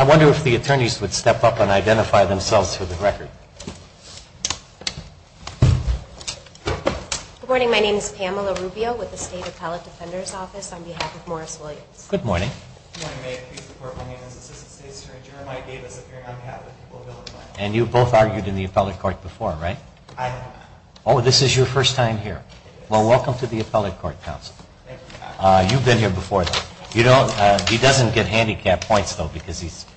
I wonder if the attorneys would step up and identify themselves for the record. Good morning. My name is Pamela Rubio with the State Appellate Defender's Office on behalf of Morris Williams. Good morning. Good morning. My name is Jeremiah Davis. I'm here on behalf of the people of Illinois. And you've both argued in the appellate court before, right? I have. Oh, this is your first time here. Well, welcome to the appellate court, counsel. Thank you. You've been here before, though. You don't – he doesn't get handicap points, though, because he's –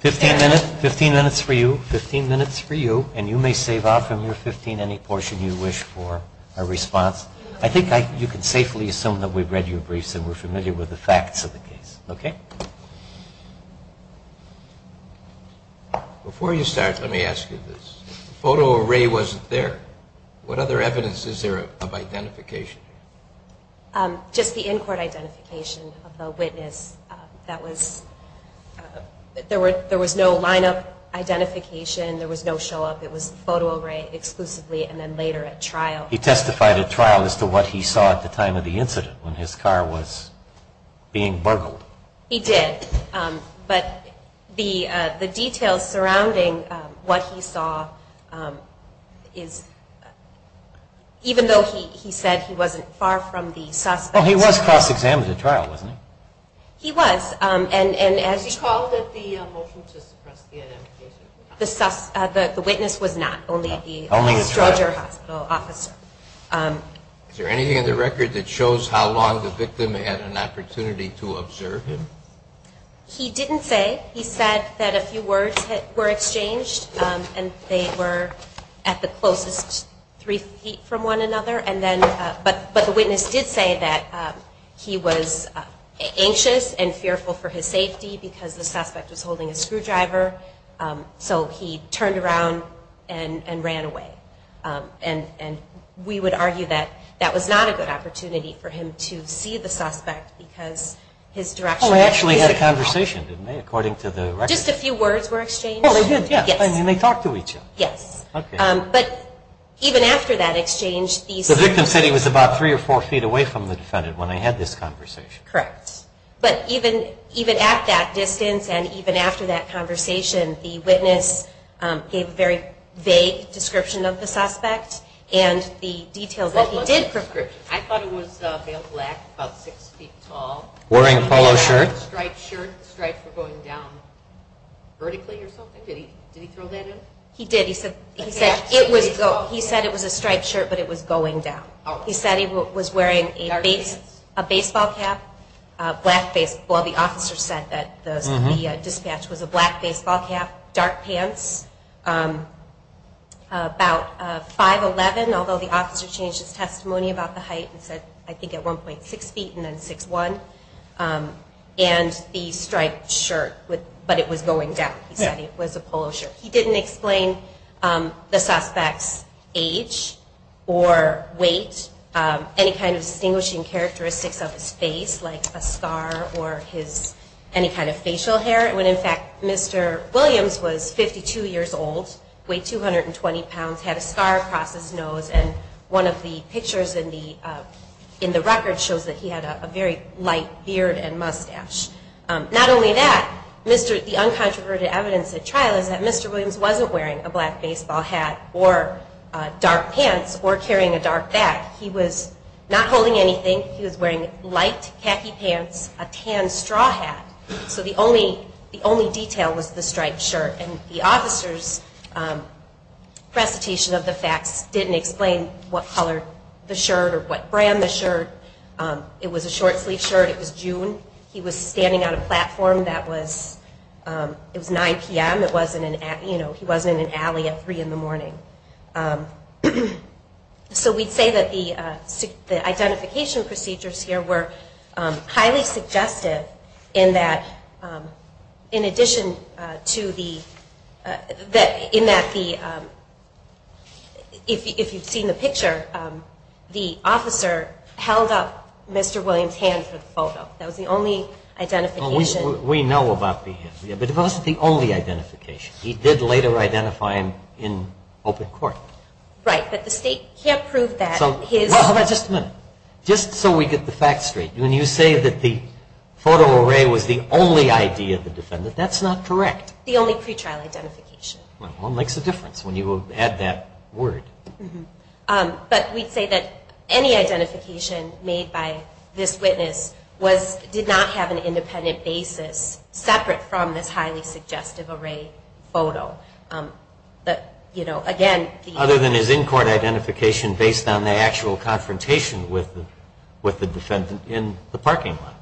15 minutes. 15 minutes for you. 15 minutes for you. And you may save off from your 15 any portion you wish for a response. I think you can safely assume that we've read your briefs and we're familiar with the facts of the case, okay? Before you start, let me ask you this. The photo array wasn't there. What other evidence is there of identification? Just the in-court identification of the witness. That was – there was no line-up identification. There was no show-up. It was the photo array exclusively and then later at trial. He testified at trial as to what he saw at the time of the incident when his car was being burgled. He did, but the details surrounding what he saw is – even though he said he wasn't far from the suspect. Well, he was cross-examined at trial, wasn't he? He was, and as – He called it the motion to suppress the identification. The witness was not, only the – only the Stroger hospital officer. Is there anything in the record that shows how long the victim had an opportunity to observe him? He didn't say. He said that a few words were exchanged and they were at the closest three feet from one another. And then – but the witness did say that he was anxious and fearful for his safety because the suspect was holding a screwdriver. So he turned around and ran away. And we would argue that that was not a good opportunity for him to see the suspect because his direction – Well, they actually had a conversation, didn't they, according to the record? Just a few words were exchanged? Well, they did, yes. Yes. I mean, they talked to each other. Yes. Okay. But even after that exchange, these – The victim said he was about three or four feet away from the defendant when they had this conversation. Correct. But even at that distance and even after that conversation, the witness gave a very vague description of the suspect and the details that he did provide. What was the description? I thought it was male black, about six feet tall. Wearing a polo shirt. Striped shirt. The stripes were going down vertically or something. Did he throw that in? He did. He said it was – he said it was a striped shirt, but it was going down. He said he was wearing a baseball cap, black baseball. The officer said that the dispatch was a black baseball cap, dark pants, about 5'11", although the officer changed his testimony about the height and said, I think, at 1.6 feet and then 6'1", and the striped shirt, but it was going down. He said it was a polo shirt. He didn't explain the suspect's age or weight, any kind of distinguishing characteristics of his face, like a scar or his – any kind of facial hair when, in fact, Mr. Williams was 52 years old, weighed 220 pounds, had a scar across his nose, and one of the pictures in the – in the record shows that he had a very light beard and mustache. Not only that, Mr. – the uncontroverted evidence at trial is that Mr. Williams wasn't wearing a black baseball hat or dark pants or carrying a dark bag. He was not holding anything. He was wearing light khaki pants, a tan straw hat. So the only – the only detail was the striped shirt. And the officer's recitation of the facts didn't explain what color the shirt or what brand the shirt. It was a short-sleeved shirt. It was June. He was standing on a platform that was – it was 9 p.m. It wasn't an – you know, he wasn't in an alley at 3 in the morning. So we'd say that the identification procedures here were highly suggestive in that, in addition to the – in that the – if you've seen the picture, the officer held up Mr. Williams' hand for the photo. That was the only identification. Well, we know about the hand. But it wasn't the only identification. He did later identify him in open court. Right, but the state can't prove that his – Well, how about just a minute? Just so we get the facts straight, when you say that the photo array was the only ID of the defendant, that's not correct. The only pretrial identification. Well, it makes a difference when you add that word. But we'd say that any identification made by this witness was – did not have an independent basis separate from this highly suggestive array photo. But, you know, again – Other than his in-court identification based on the actual confrontation with the defendant in the parking lot.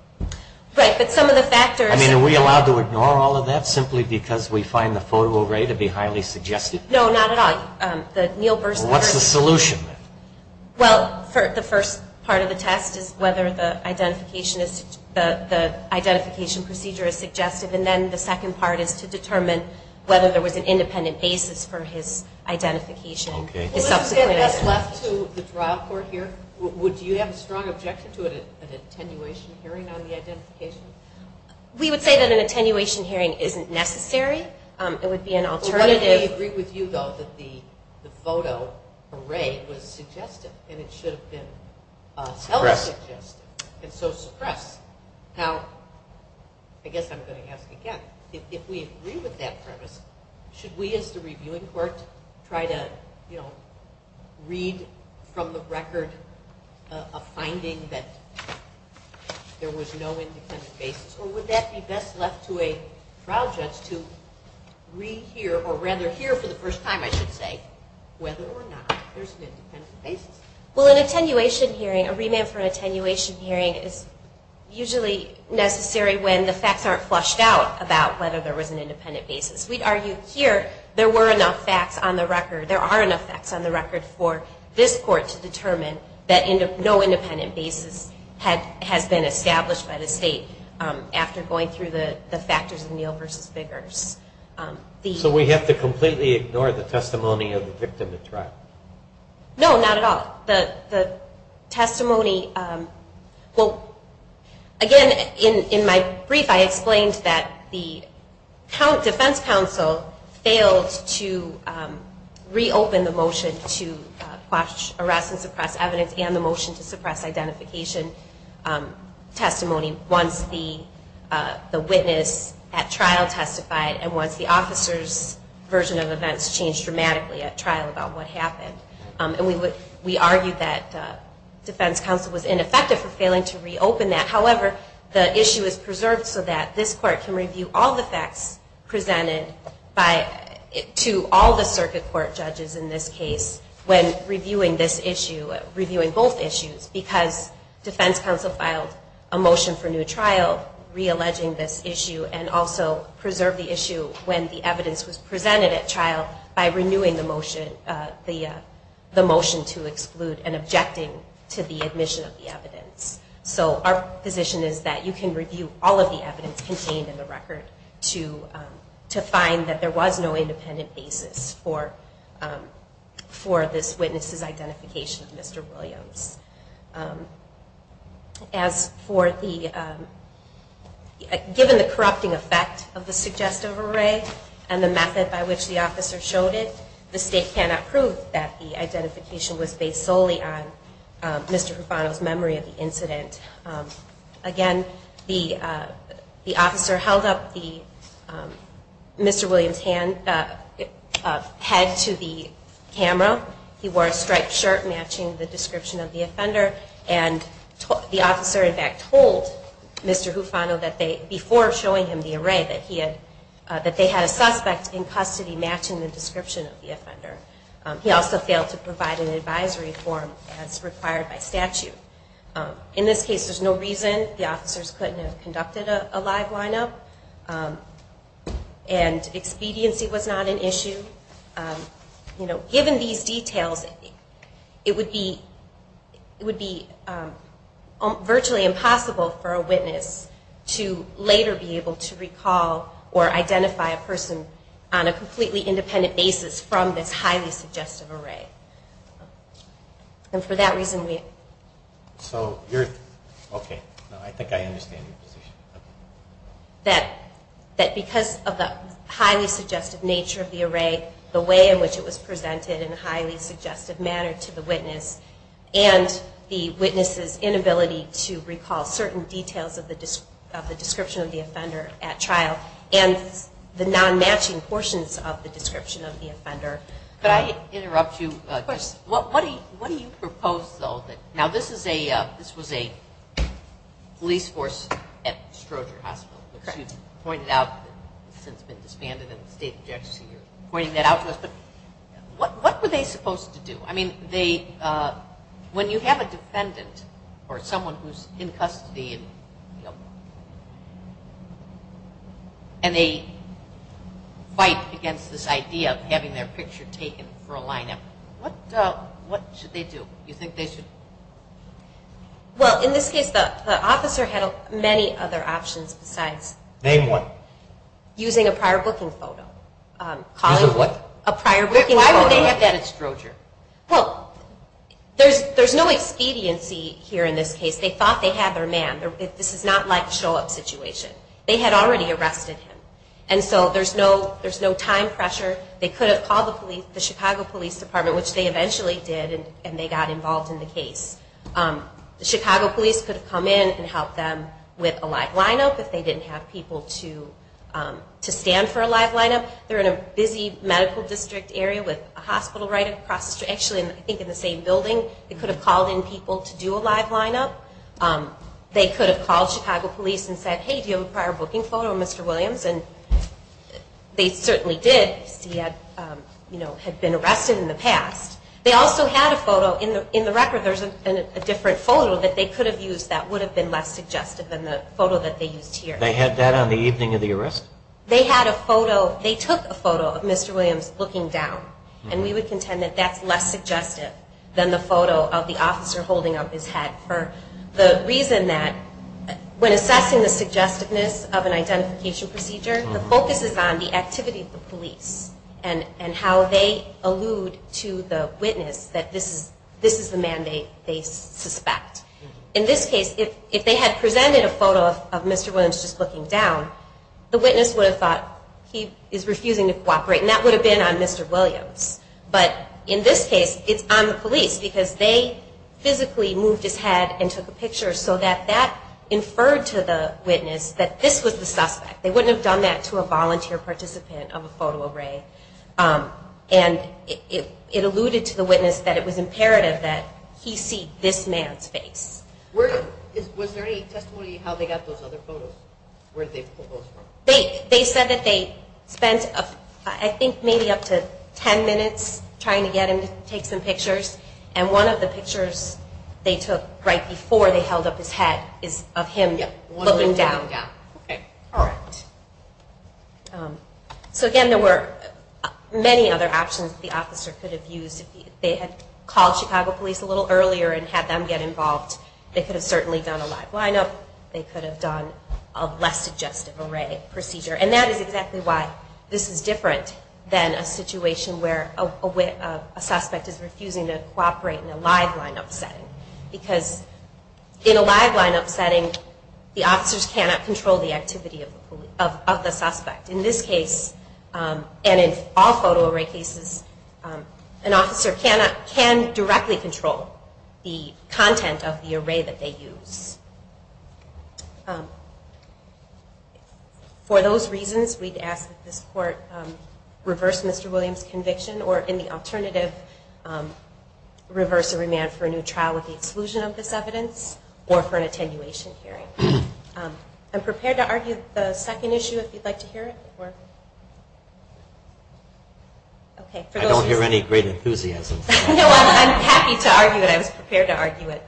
Right, but some of the factors – I mean, are we allowed to ignore all of that simply because we find the photo array to be highly suggestive? No, not at all. Well, what's the solution then? Well, the first part of the test is whether the identification procedure is suggestive. And then the second part is to determine whether there was an independent basis for his identification. Let's get this left to the trial court here. Would you have a strong objection to an attenuation hearing on the identification? We would say that an attenuation hearing isn't necessary. It would be an alternative – the photo array was suggestive, and it should have been highly suggestive. And so suppress. Now, I guess I'm going to ask again. If we agree with that premise, should we as the reviewing court try to, you know, read from the record a finding that there was no independent basis? Or would that be best left to a trial judge to rehear – or rather hear for the first time, I should say, whether or not there's an independent basis? Well, an attenuation hearing – a remand for an attenuation hearing is usually necessary when the facts aren't flushed out about whether there was an independent basis. We'd argue here there were enough facts on the record – there are enough facts on the record for this court to determine that no independent basis has been established by the state after going through the factors of Neal v. Biggers. So we have to completely ignore the testimony of the victim at trial? No, not at all. The testimony – well, again, in my brief I explained that the defense counsel failed to reopen the motion to quash, arrest, and suppress evidence and the motion to suppress identification testimony once the witness at trial testified and once the officer's version of events changed dramatically at trial about what happened. And we argued that defense counsel was ineffective for failing to reopen that. However, the issue is preserved so that this court can review all the facts presented to all the circuit court judges in this case when reviewing this issue, reviewing both issues, because defense counsel filed a motion for new trial re-alleging this issue and also preserved the issue when the evidence was presented at trial by renewing the motion to exclude and objecting to the admission of the evidence. So our position is that you can review all of the evidence contained in the record to find that there was no independent basis for this witness's identification of Mr. Williams. As for the – given the corrupting effect of the suggestive array and the method by which the officer showed it, the state cannot prove that the identification was based solely on Mr. Hufano's memory of the incident. Again, the officer held up Mr. Williams' head to the camera. He wore a striped shirt matching the description of the offender, and the officer in fact told Mr. Hufano before showing him the array that they had a suspect in custody matching the description of the offender. He also failed to provide an advisory form as required by statute. In this case, there's no reason. The officers couldn't have conducted a live lineup, and expediency was not an issue. Given these details, it would be virtually impossible for a witness to later be able to recall or identify a person on a completely independent basis from this highly suggestive array. And for that reason we – So you're – okay, I think I understand your position. That because of the highly suggestive nature of the array, the way in which it was presented in a highly suggestive manner to the witness, and the witness's inability to recall certain details of the description of the offender at trial, and the non-matching portions of the description of the offender – Could I interrupt you? Of course. What do you propose, though? Now, this was a police force at Stroger Hospital, which you pointed out has since been disbanded, and the State of New Jersey are pointing that out to us. But what were they supposed to do? I mean, when you have a defendant or someone who's in custody, and they fight against this idea of having their picture taken for a lineup, what should they do? Do you think they should – Well, in this case, the officer had many other options besides – Name one. Using a prior booking photo. Using what? A prior booking photo. Why would they have that at Stroger? Well, there's no expediency here in this case. They thought they had their man. This is not like a show-up situation. They had already arrested him, and so there's no time pressure. They could have called the Chicago Police Department, which they eventually did, and they got involved in the case. The Chicago Police could have come in and helped them with a live lineup if they didn't have people to stand for a live lineup. They're in a busy medical district area with a hospital right across the street. Actually, I think in the same building. They could have called in people to do a live lineup. They could have called Chicago Police and said, hey, do you have a prior booking photo of Mr. Williams? And they certainly did. He had been arrested in the past. They also had a photo in the record. There's a different photo that they could have used that would have been less suggestive than the photo that they used here. They had that on the evening of the arrest? They had a photo. They took a photo of Mr. Williams looking down, and we would contend that that's less suggestive than the photo of the officer holding up his head for the reason that when assessing the suggestiveness of an identification procedure, the focus is on the activity of the police and how they allude to the witness that this is the man they suspect. In this case, if they had presented a photo of Mr. Williams just looking down, the witness would have thought he is refusing to cooperate, and that would have been on Mr. Williams. But in this case, it's on the police because they physically moved his head and took a picture so that that inferred to the witness that this was the suspect. They wouldn't have done that to a volunteer participant of a photo array. And it alluded to the witness that it was imperative that he see this man's face. Was there any testimony of how they got those other photos? They said that they spent I think maybe up to 10 minutes trying to get him to take some pictures, and one of the pictures they took right before they held up his head is of him looking down. So again, there were many other options the officer could have used if they had called Chicago Police a little earlier and had them get involved. They could have certainly done a live line-up. They could have done a less suggestive array procedure. And that is exactly why this is different than a situation where a suspect is refusing to cooperate in a live line-up setting because in a live line-up setting, the officers cannot control the activity of the suspect. In this case, and in all photo array cases, an officer can directly control the content of the array that they use. For those reasons, we'd ask that this court reverse Mr. Williams' conviction or in the alternative, reverse the remand for a new trial with the exclusion of this evidence or for an attenuation hearing. I'm prepared to argue the second issue if you'd like to hear it. I don't hear any great enthusiasm. No, I'm happy to argue it. I was prepared to argue it.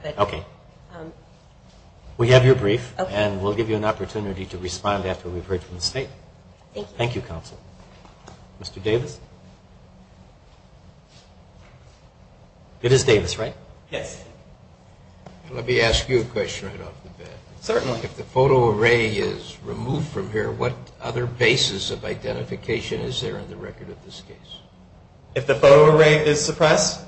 We have your brief and we'll give you an opportunity to respond after we've heard from the State. Thank you, Counsel. Mr. Davis? It is Davis, right? Yes. Let me ask you a question right off the bat. Certainly. If the photo array is removed from here, what other basis of identification is there in the record of this case? If the photo array is suppressed,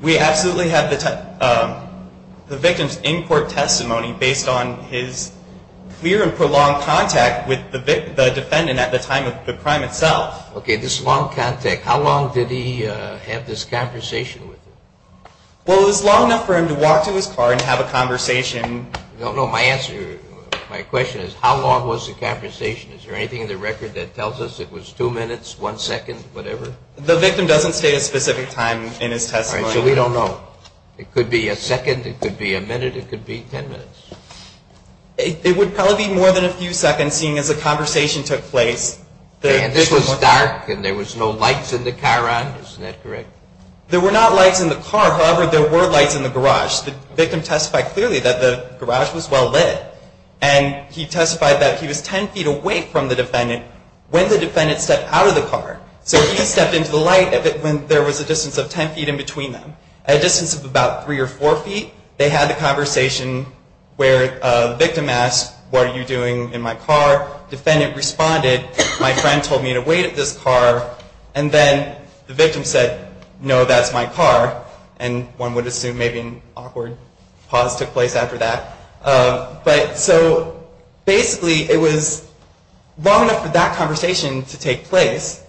we absolutely have the victim's in-court testimony based on his clear and prolonged contact with the defendant at the time of the crime itself. Okay, this long contact. How long did he have this conversation with him? Well, it was long enough for him to walk to his car and have a conversation. No, no. My question is how long was the conversation? Is there anything in the record that tells us it was two minutes, one second, whatever? The victim doesn't state a specific time in his testimony. So we don't know. It could be a second. It could be a minute. It could be ten minutes. It would probably be more than a few seconds seeing as the conversation took place. And this was dark and there was no lights in the car on. Isn't that correct? There were not lights in the car. However, there were lights in the garage. The victim testified clearly that the garage was well lit. And he testified that he was ten feet away from the defendant when the defendant stepped out of the car. So he stepped into the light when there was a distance of ten feet in between them. At a distance of about three or four feet, they had the conversation where the victim asked, what are you doing in my car? Defendant responded, my friend told me to wait at this car. And then the victim said, no, that's my car. And one would assume maybe an awkward pause took place after that. But so basically it was long enough for that conversation to take place.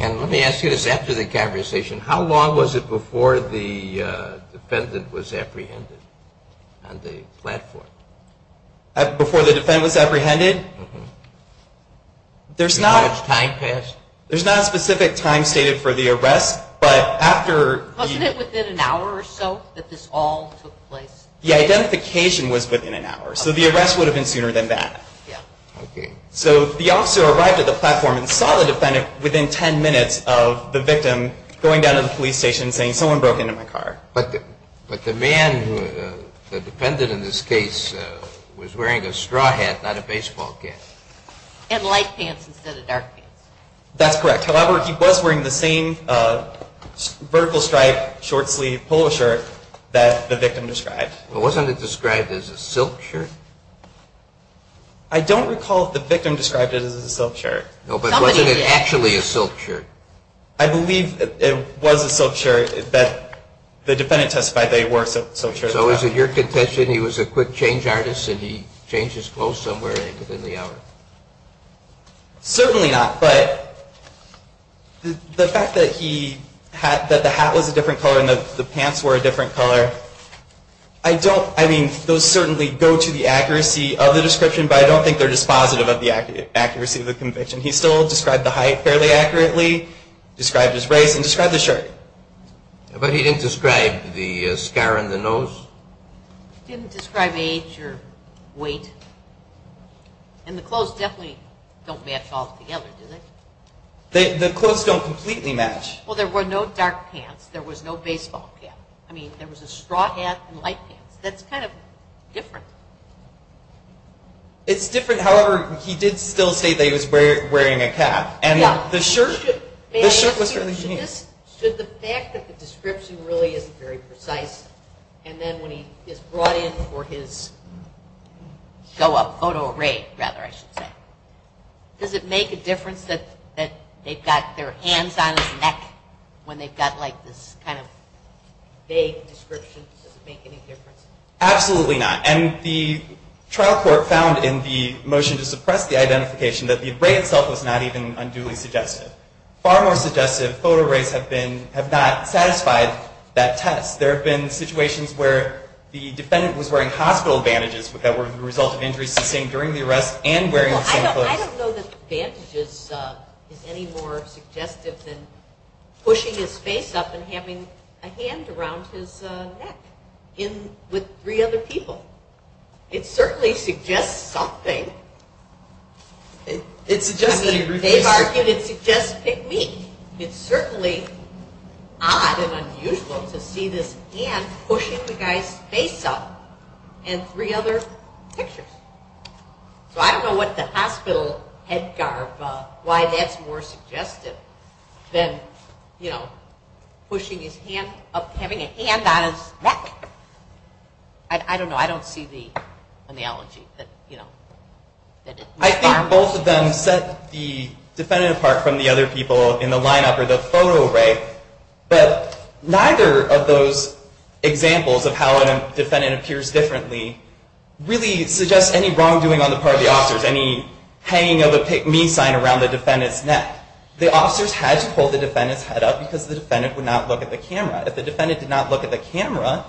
And let me ask you this. After the conversation, how long was it before the defendant was apprehended on the platform? Before the defendant was apprehended? Before its time passed? There's not a specific time stated for the arrest. Wasn't it within an hour or so that this all took place? The identification was within an hour. So the arrest would have been sooner than that. So the officer arrived at the platform and saw the defendant within ten minutes of the victim going down to the police station and saying, someone broke into my car. But the man, the defendant in this case, was wearing a straw hat, not a baseball cap. And light pants instead of dark pants. That's correct. However, he was wearing the same vertical stripe short sleeve polo shirt that the victim described. Wasn't it described as a silk shirt? I don't recall if the victim described it as a silk shirt. No, but wasn't it actually a silk shirt? I believe it was a silk shirt that the defendant testified that he wore a silk shirt. So is it your contention he was a quick change artist and he changed his clothes somewhere within the hour? Certainly not. But the fact that the hat was a different color and the pants were a different color, I mean, those certainly go to the accuracy of the description, but I don't think they're dispositive of the accuracy of the conviction. He still described the height fairly accurately, described his race, and described the shirt. But he didn't describe the scar on the nose? He didn't describe age or weight. And the clothes definitely don't match altogether, do they? The clothes don't completely match. Well, there were no dark pants. There was no baseball cap. I mean, there was a straw hat and light pants. That's kind of different. It's different. However, he did still state that he was wearing a cap. And the shirt was fairly unique. The fact that the description really isn't very precise, and then when he is brought in for his show-up photo array, rather, I should say, does it make a difference that they've got their hands on his neck when they've got, like, this kind of vague description? Does it make any difference? Absolutely not. And the trial court found in the motion to suppress the identification that the array itself was not even unduly suggestive. Far more suggestive photo arrays have not satisfied that test. There have been situations where the defendant was wearing hospital bandages that were the result of injuries sustained during the arrest and wearing the same clothes. I don't know that bandages is any more suggestive than pushing his face up and having a hand around his neck with three other people. It certainly suggests something. They've argued it suggests pygmy. It's certainly odd and unusual to see this hand pushing the guy's face up and three other pictures. So I don't know what the hospital head garb, why that's more suggestive than, you know, pushing his hand up, having a hand on his neck. I don't know. I don't see the analogy. I think both of them set the defendant apart from the other people in the lineup or the photo array. But neither of those examples of how a defendant appears differently really suggests any wrongdoing on the part of the officers, any hanging of a pygmy sign around the defendant's neck. The officers had to hold the defendant's head up because the defendant would not look at the camera. If the defendant did not look at the camera,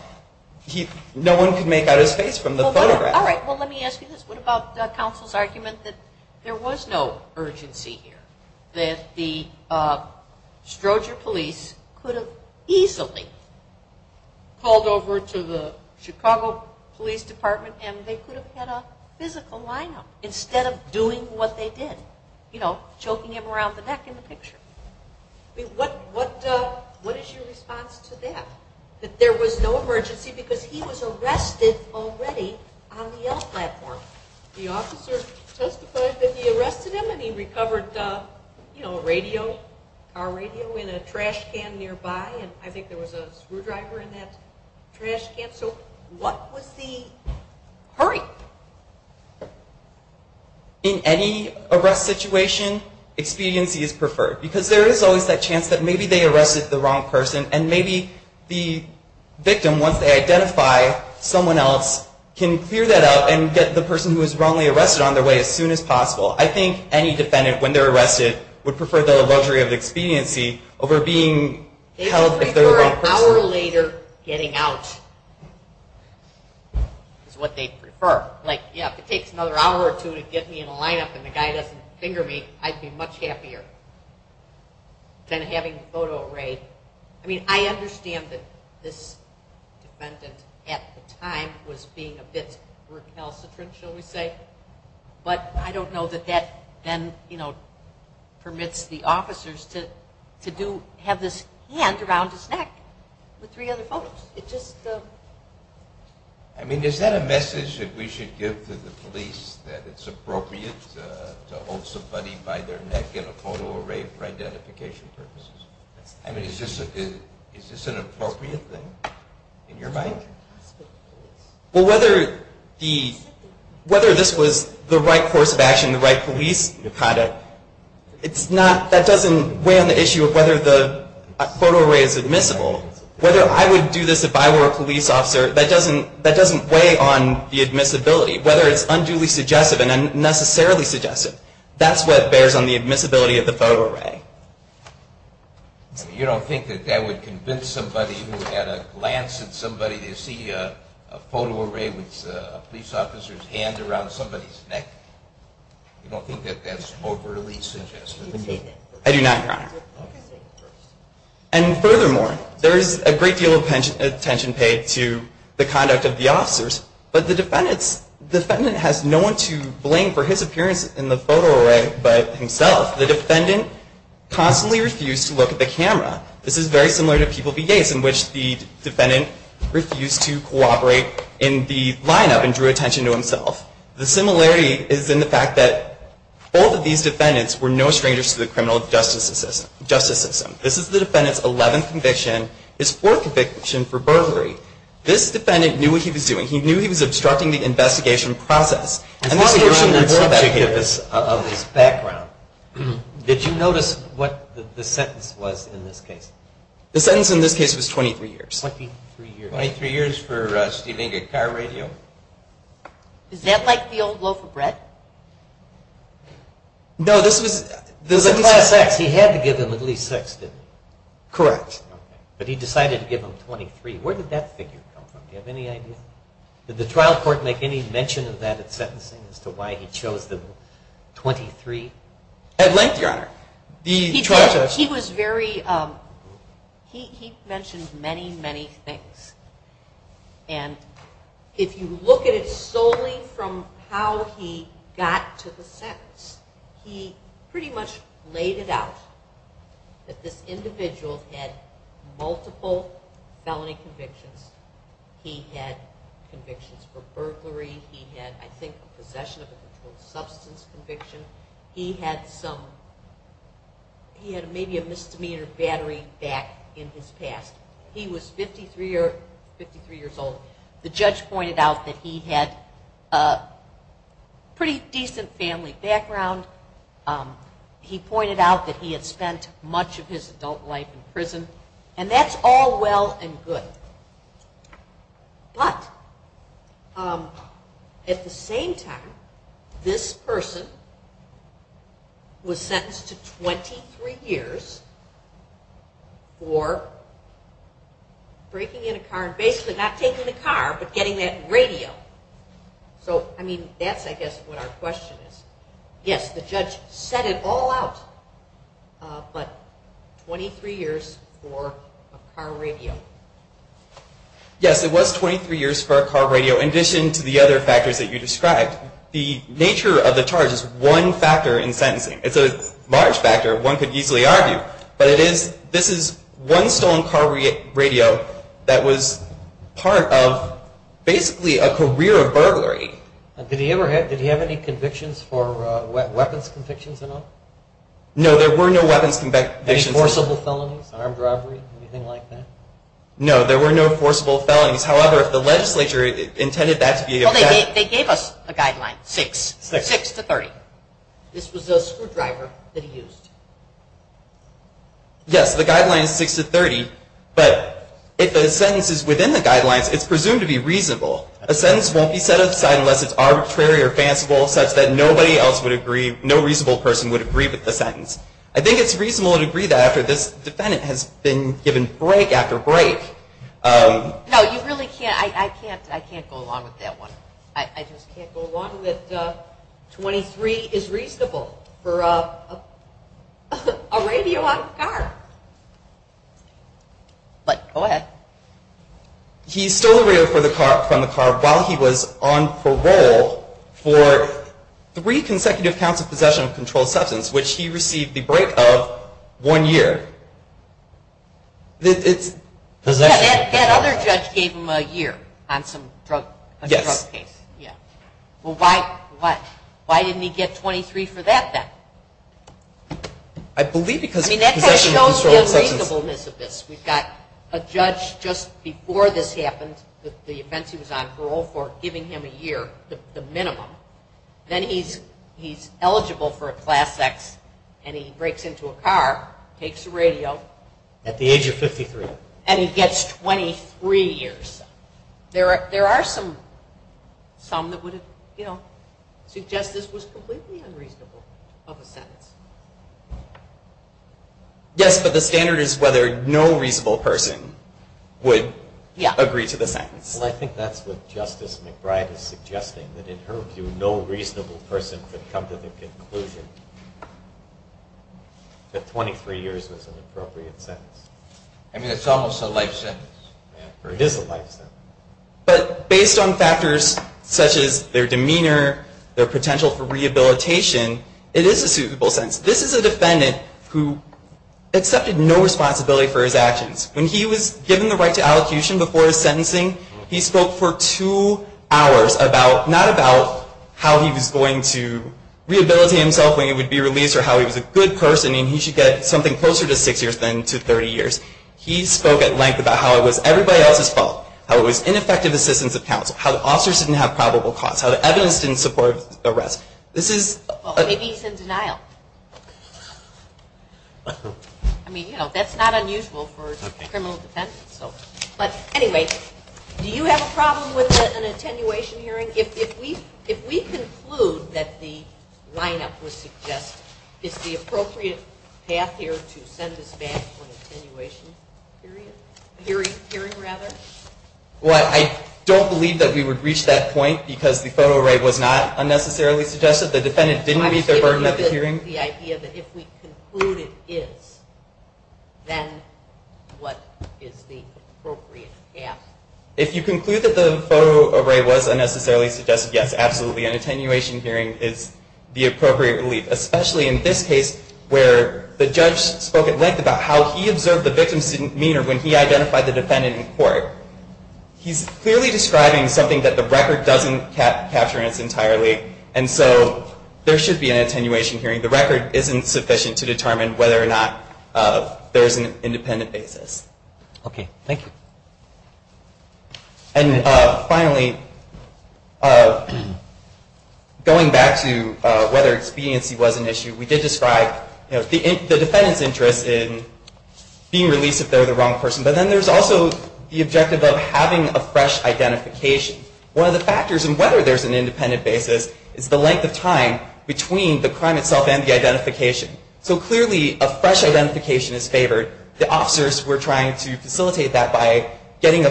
no one could make out his face from the photograph. All right. Well, let me ask you this. What about counsel's argument that there was no urgency here, that the Stroger police could have easily called over to the Chicago Police Department and they could have had a physical lineup instead of doing what they did, you know, choking him around the neck in the picture. I mean, what is your response to that, that there was no emergency because he was arrested already on the L platform? The officer testified that he arrested him and he recovered, you know, a radio, a car radio in a trash can nearby, and I think there was a screwdriver in that trash can. So what was the hurry? In any arrest situation, expediency is preferred because there is always that chance that maybe they arrested the wrong person and maybe the victim, once they identify someone else, can clear that out and get the person who was wrongly arrested on their way as soon as possible. I think any defendant, when they're arrested, would prefer the luxury of expediency over being held if they're the wrong person. An hour later getting out is what they'd prefer. Like, yeah, if it takes another hour or two to get me in a lineup and the guy doesn't finger me, I'd be much happier than having the photo arrayed. I mean, I understand that this defendant at the time was being a bit recalcitrant, shall we say, but I don't know that that then, you know, with three other photos. I mean, is that a message that we should give to the police, that it's appropriate to hold somebody by their neck in a photo array for identification purposes? I mean, is this an appropriate thing in your mind? Well, whether this was the right course of action, the right police conduct, that doesn't weigh on the issue of whether a photo array is admissible. Whether I would do this if I were a police officer, that doesn't weigh on the admissibility. Whether it's unduly suggestive and unnecessarily suggestive, that's what bears on the admissibility of the photo array. You don't think that that would convince somebody who had a glance at somebody to see a photo array with a police officer's hand around somebody's neck? You don't think that that's overly suggestive? I do not, Your Honor. And furthermore, there is a great deal of attention paid to the conduct of the officers, but the defendant has no one to blame for his appearance in the photo array but himself. The defendant constantly refused to look at the camera. This is very similar to People v. Yates, in which the defendant refused to cooperate in the lineup and drew attention to himself. The similarity is in the fact that both of these defendants were no strangers to the criminal justice system. This is the defendant's 11th conviction, his 4th conviction for burglary. This defendant knew what he was doing. He knew he was obstructing the investigation process. As long as you're on that subject of his background, did you notice what the sentence was in this case? The sentence in this case was 23 years. 23 years for stealing a car radio? Correct. Is that like the old loaf of bread? No, this was class X. He had to give him at least 6, didn't he? Correct. But he decided to give him 23. Where did that figure come from? Do you have any idea? Did the trial court make any mention of that in sentencing as to why he chose the 23? At length, Your Honor. He mentioned many, many things. And if you look at it solely from how he got to the sentence, he pretty much laid it out that this individual had multiple felony convictions. He had convictions for burglary. He had, I think, a possession of a controlled substance conviction. He had maybe a misdemeanor battery back in his past. He was 53 years old. The judge pointed out that he had a pretty decent family background. He pointed out that he had spent much of his adult life in prison. And that's all well and good. But at the same time, this person was sentenced to 23 years for breaking in a car and basically not taking the car but getting that radio. So, I mean, that's, I guess, what our question is. Yes, the judge set it all out, but 23 years for a car radio. Yes, it was 23 years for a car radio in addition to the other factors that you described. The nature of the charge is one factor in sentencing. It's a large factor. One could easily argue. But this is one stolen car radio that was part of basically a career of burglary. Did he have any convictions for weapons convictions at all? No, there were no weapons convictions. Any forcible felonies, armed robbery, anything like that? No, there were no forcible felonies. However, if the legislature intended that to be a- Well, they gave us a guideline, 6, 6 to 30. This was a screwdriver that he used. Yes, the guideline is 6 to 30. But if the sentence is within the guidelines, it's presumed to be reasonable. A sentence won't be set aside unless it's arbitrary or fanciful such that nobody else would agree, no reasonable person would agree with the sentence. I think it's reasonable to agree that after this defendant has been given break after break. No, you really can't, I can't go along with that one. I just can't go along with 23 is reasonable for a radio on a car. But go ahead. He stole the radio from the car while he was on parole for three consecutive counts of possession of controlled substance, which he received the break of one year. That other judge gave him a year on some drug case. Yes. Well, why didn't he get 23 for that then? I believe because of possession of controlled substance. We've got a judge just before this happened, the offense he was on parole for giving him a year, the minimum. Then he's eligible for a class X and he breaks into a car, takes the radio. At the age of 53. And he gets 23 years. Yes, but the standard is whether no reasonable person would agree to the sentence. Well, I think that's what Justice McBride is suggesting, that in her view no reasonable person could come to the conclusion that 23 years was an appropriate sentence. I mean, it's almost a life sentence. It is a life sentence. But based on factors such as their demeanor, their potential for rehabilitation, it is a suitable sentence. This is a defendant who accepted no responsibility for his actions. When he was given the right to allocution before his sentencing, he spoke for two hours about, not about how he was going to rehabilitate himself when he would be released or how he was a good person and he should get something closer to six years than to 30 years. He spoke at length about how it was everybody else's fault, how it was ineffective assistance of counsel, how the officers didn't have probable cause, how the evidence didn't support arrest. This is... Well, maybe he's in denial. I mean, you know, that's not unusual for a criminal defense. But anyway, do you have a problem with an attenuation hearing? If we conclude that the lineup was suggested, is the appropriate path here to send this back for an attenuation hearing? Well, I don't believe that we would reach that point because the photo array was not unnecessarily suggested. The defendant didn't meet the burden of the hearing. I'm just giving you the idea that if we conclude it is, then what is the appropriate path? If you conclude that the photo array was unnecessarily suggested, yes, absolutely. An attenuation hearing is the appropriate relief, especially in this case where the judge spoke at length about how he observed the victim's demeanor when he identified the defendant in court. He's clearly describing something that the record doesn't capture entirely. And so there should be an attenuation hearing. The record isn't sufficient to determine whether or not there is an independent basis. Okay, thank you. And finally, going back to whether expediency was an issue, we did describe the defendant's interest in being released if they're the wrong person. But then there's also the objective of having a fresh identification. One of the factors in whether there's an independent basis is the length of time between the crime itself and the identification. So clearly a fresh identification is favored. The officers were trying to facilitate that by getting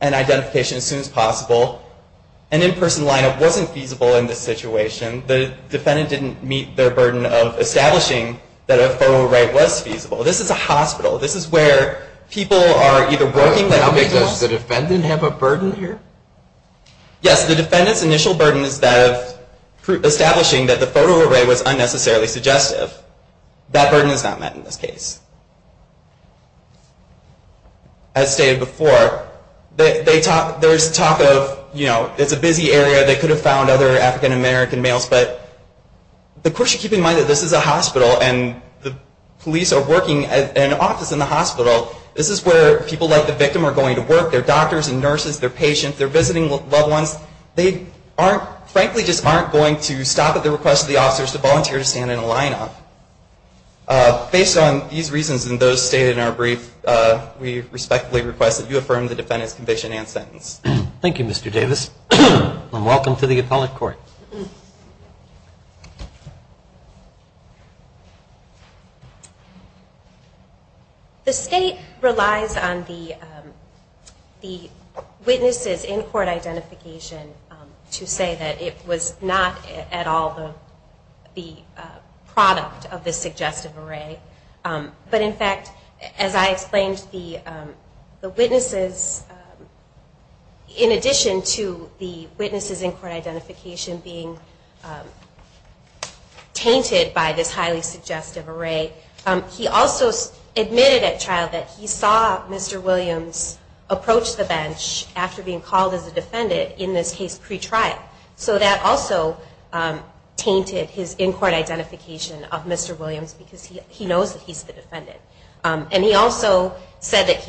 an identification as soon as possible. An in-person lineup wasn't feasible in this situation. The defendant didn't meet their burden of establishing that a photo array was feasible. This is a hospital. This is where people are either working... Does the defendant have a burden here? Yes, the defendant's initial burden is that of establishing that the photo array was unnecessarily suggestive. That burden is not met in this case. As stated before, there's talk of, you know, it's a busy area. They could have found other African-American males. But the question, keep in mind that this is a hospital and the police are working in an office in the hospital. This is where people like the victim are going to work. They're doctors and nurses. They're patients. They're visiting loved ones. They frankly just aren't going to stop at the request of the officers to volunteer to stand in a lineup. Based on these reasons and those stated in our brief, we respectfully request that you affirm the defendant's conviction and sentence. Thank you, Mr. Davis, and welcome to the appellate court. The state relies on the witness's in-court identification to say that it was not at all the product of the suggestive array. But in fact, as I explained, the witnesses, in addition to the witness's in-court identification being tainted by this highly suggestive array, he also admitted at trial that he saw Mr. Williams approach the bench after being called as a defendant in this case pre-trial. So that also tainted his in-court identification of Mr. Williams because he knows that he's the defendant. And he also said that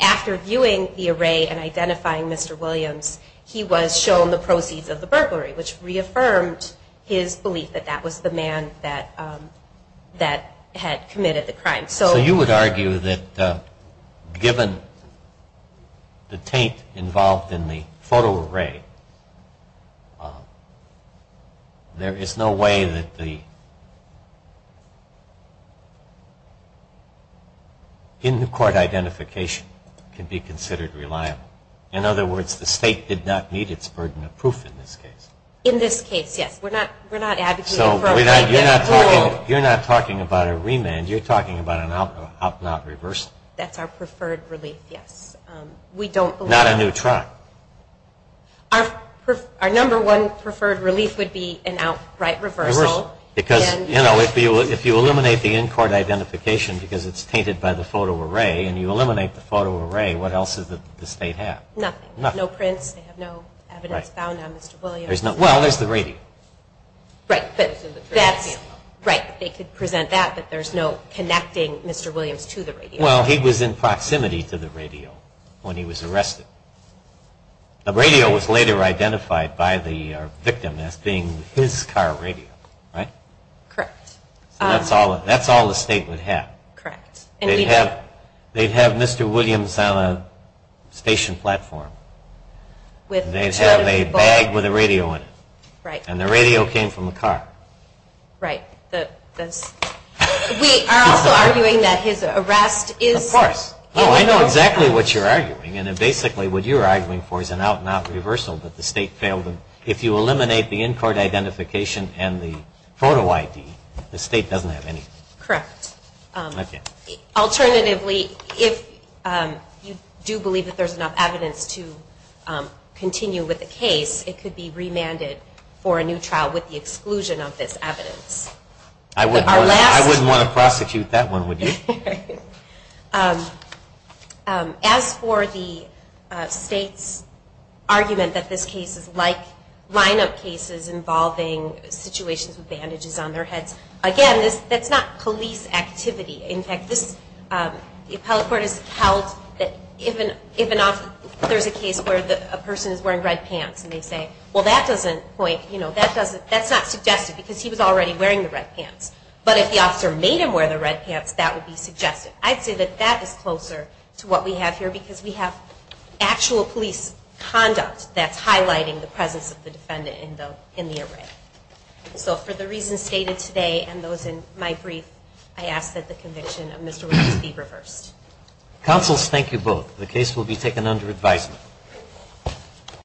after viewing the array and identifying Mr. Williams, he was shown the proceeds of the burglary, which reaffirmed his belief that that was the man that had committed the crime. So you would argue that given the taint involved in the photo array, there is no way that the in-court identification can be considered reliable. In other words, the state did not meet its burden of proof in this case. In this case, yes. We're not advocating for a remand. You're not talking about a remand. You're talking about an outright reversal. That's our preferred relief, yes. Not a new trial. Our number one preferred relief would be an outright reversal. Because if you eliminate the in-court identification because it's tainted by the photo array and you eliminate the photo array, what else does the state have? Nothing. No prints. They have no evidence found on Mr. Williams. Well, there's the radio. Right. Right. They could present that, but there's no connecting Mr. Williams to the radio. Well, he was in proximity to the radio when he was arrested. The radio was later identified by the victim as being his car radio, right? Correct. So that's all the state would have. Correct. They'd have Mr. Williams on a station platform. They'd have a bag with a radio in it. Right. And the radio came from the car. Right. We are also arguing that his arrest is- Of course. Oh, I know exactly what you're arguing. And basically what you're arguing for is an outright reversal that the state failed. If you eliminate the in-court identification and the photo ID, the state doesn't have anything. Correct. Okay. Alternatively, if you do believe that there's enough evidence to continue with the case, it could be remanded for a new trial with the exclusion of this evidence. I wouldn't want to prosecute that one, would you? As for the state's argument that this case is like line-up cases involving situations with bandages on their heads, again, that's not police activity. In fact, the appellate court has held that if there's a case where a person is wearing red pants and they say, well, that's not suggested because he was already wearing the red pants. But if the officer made him wear the red pants, that would be suggested. I'd say that that is closer to what we have here because we have actual police conduct that's highlighting the presence of the defendant in the array. So for the reasons stated today and those in my brief, I ask that the conviction of Mr. Williams be reversed. Counsels, thank you both. The case will be taken under advisement.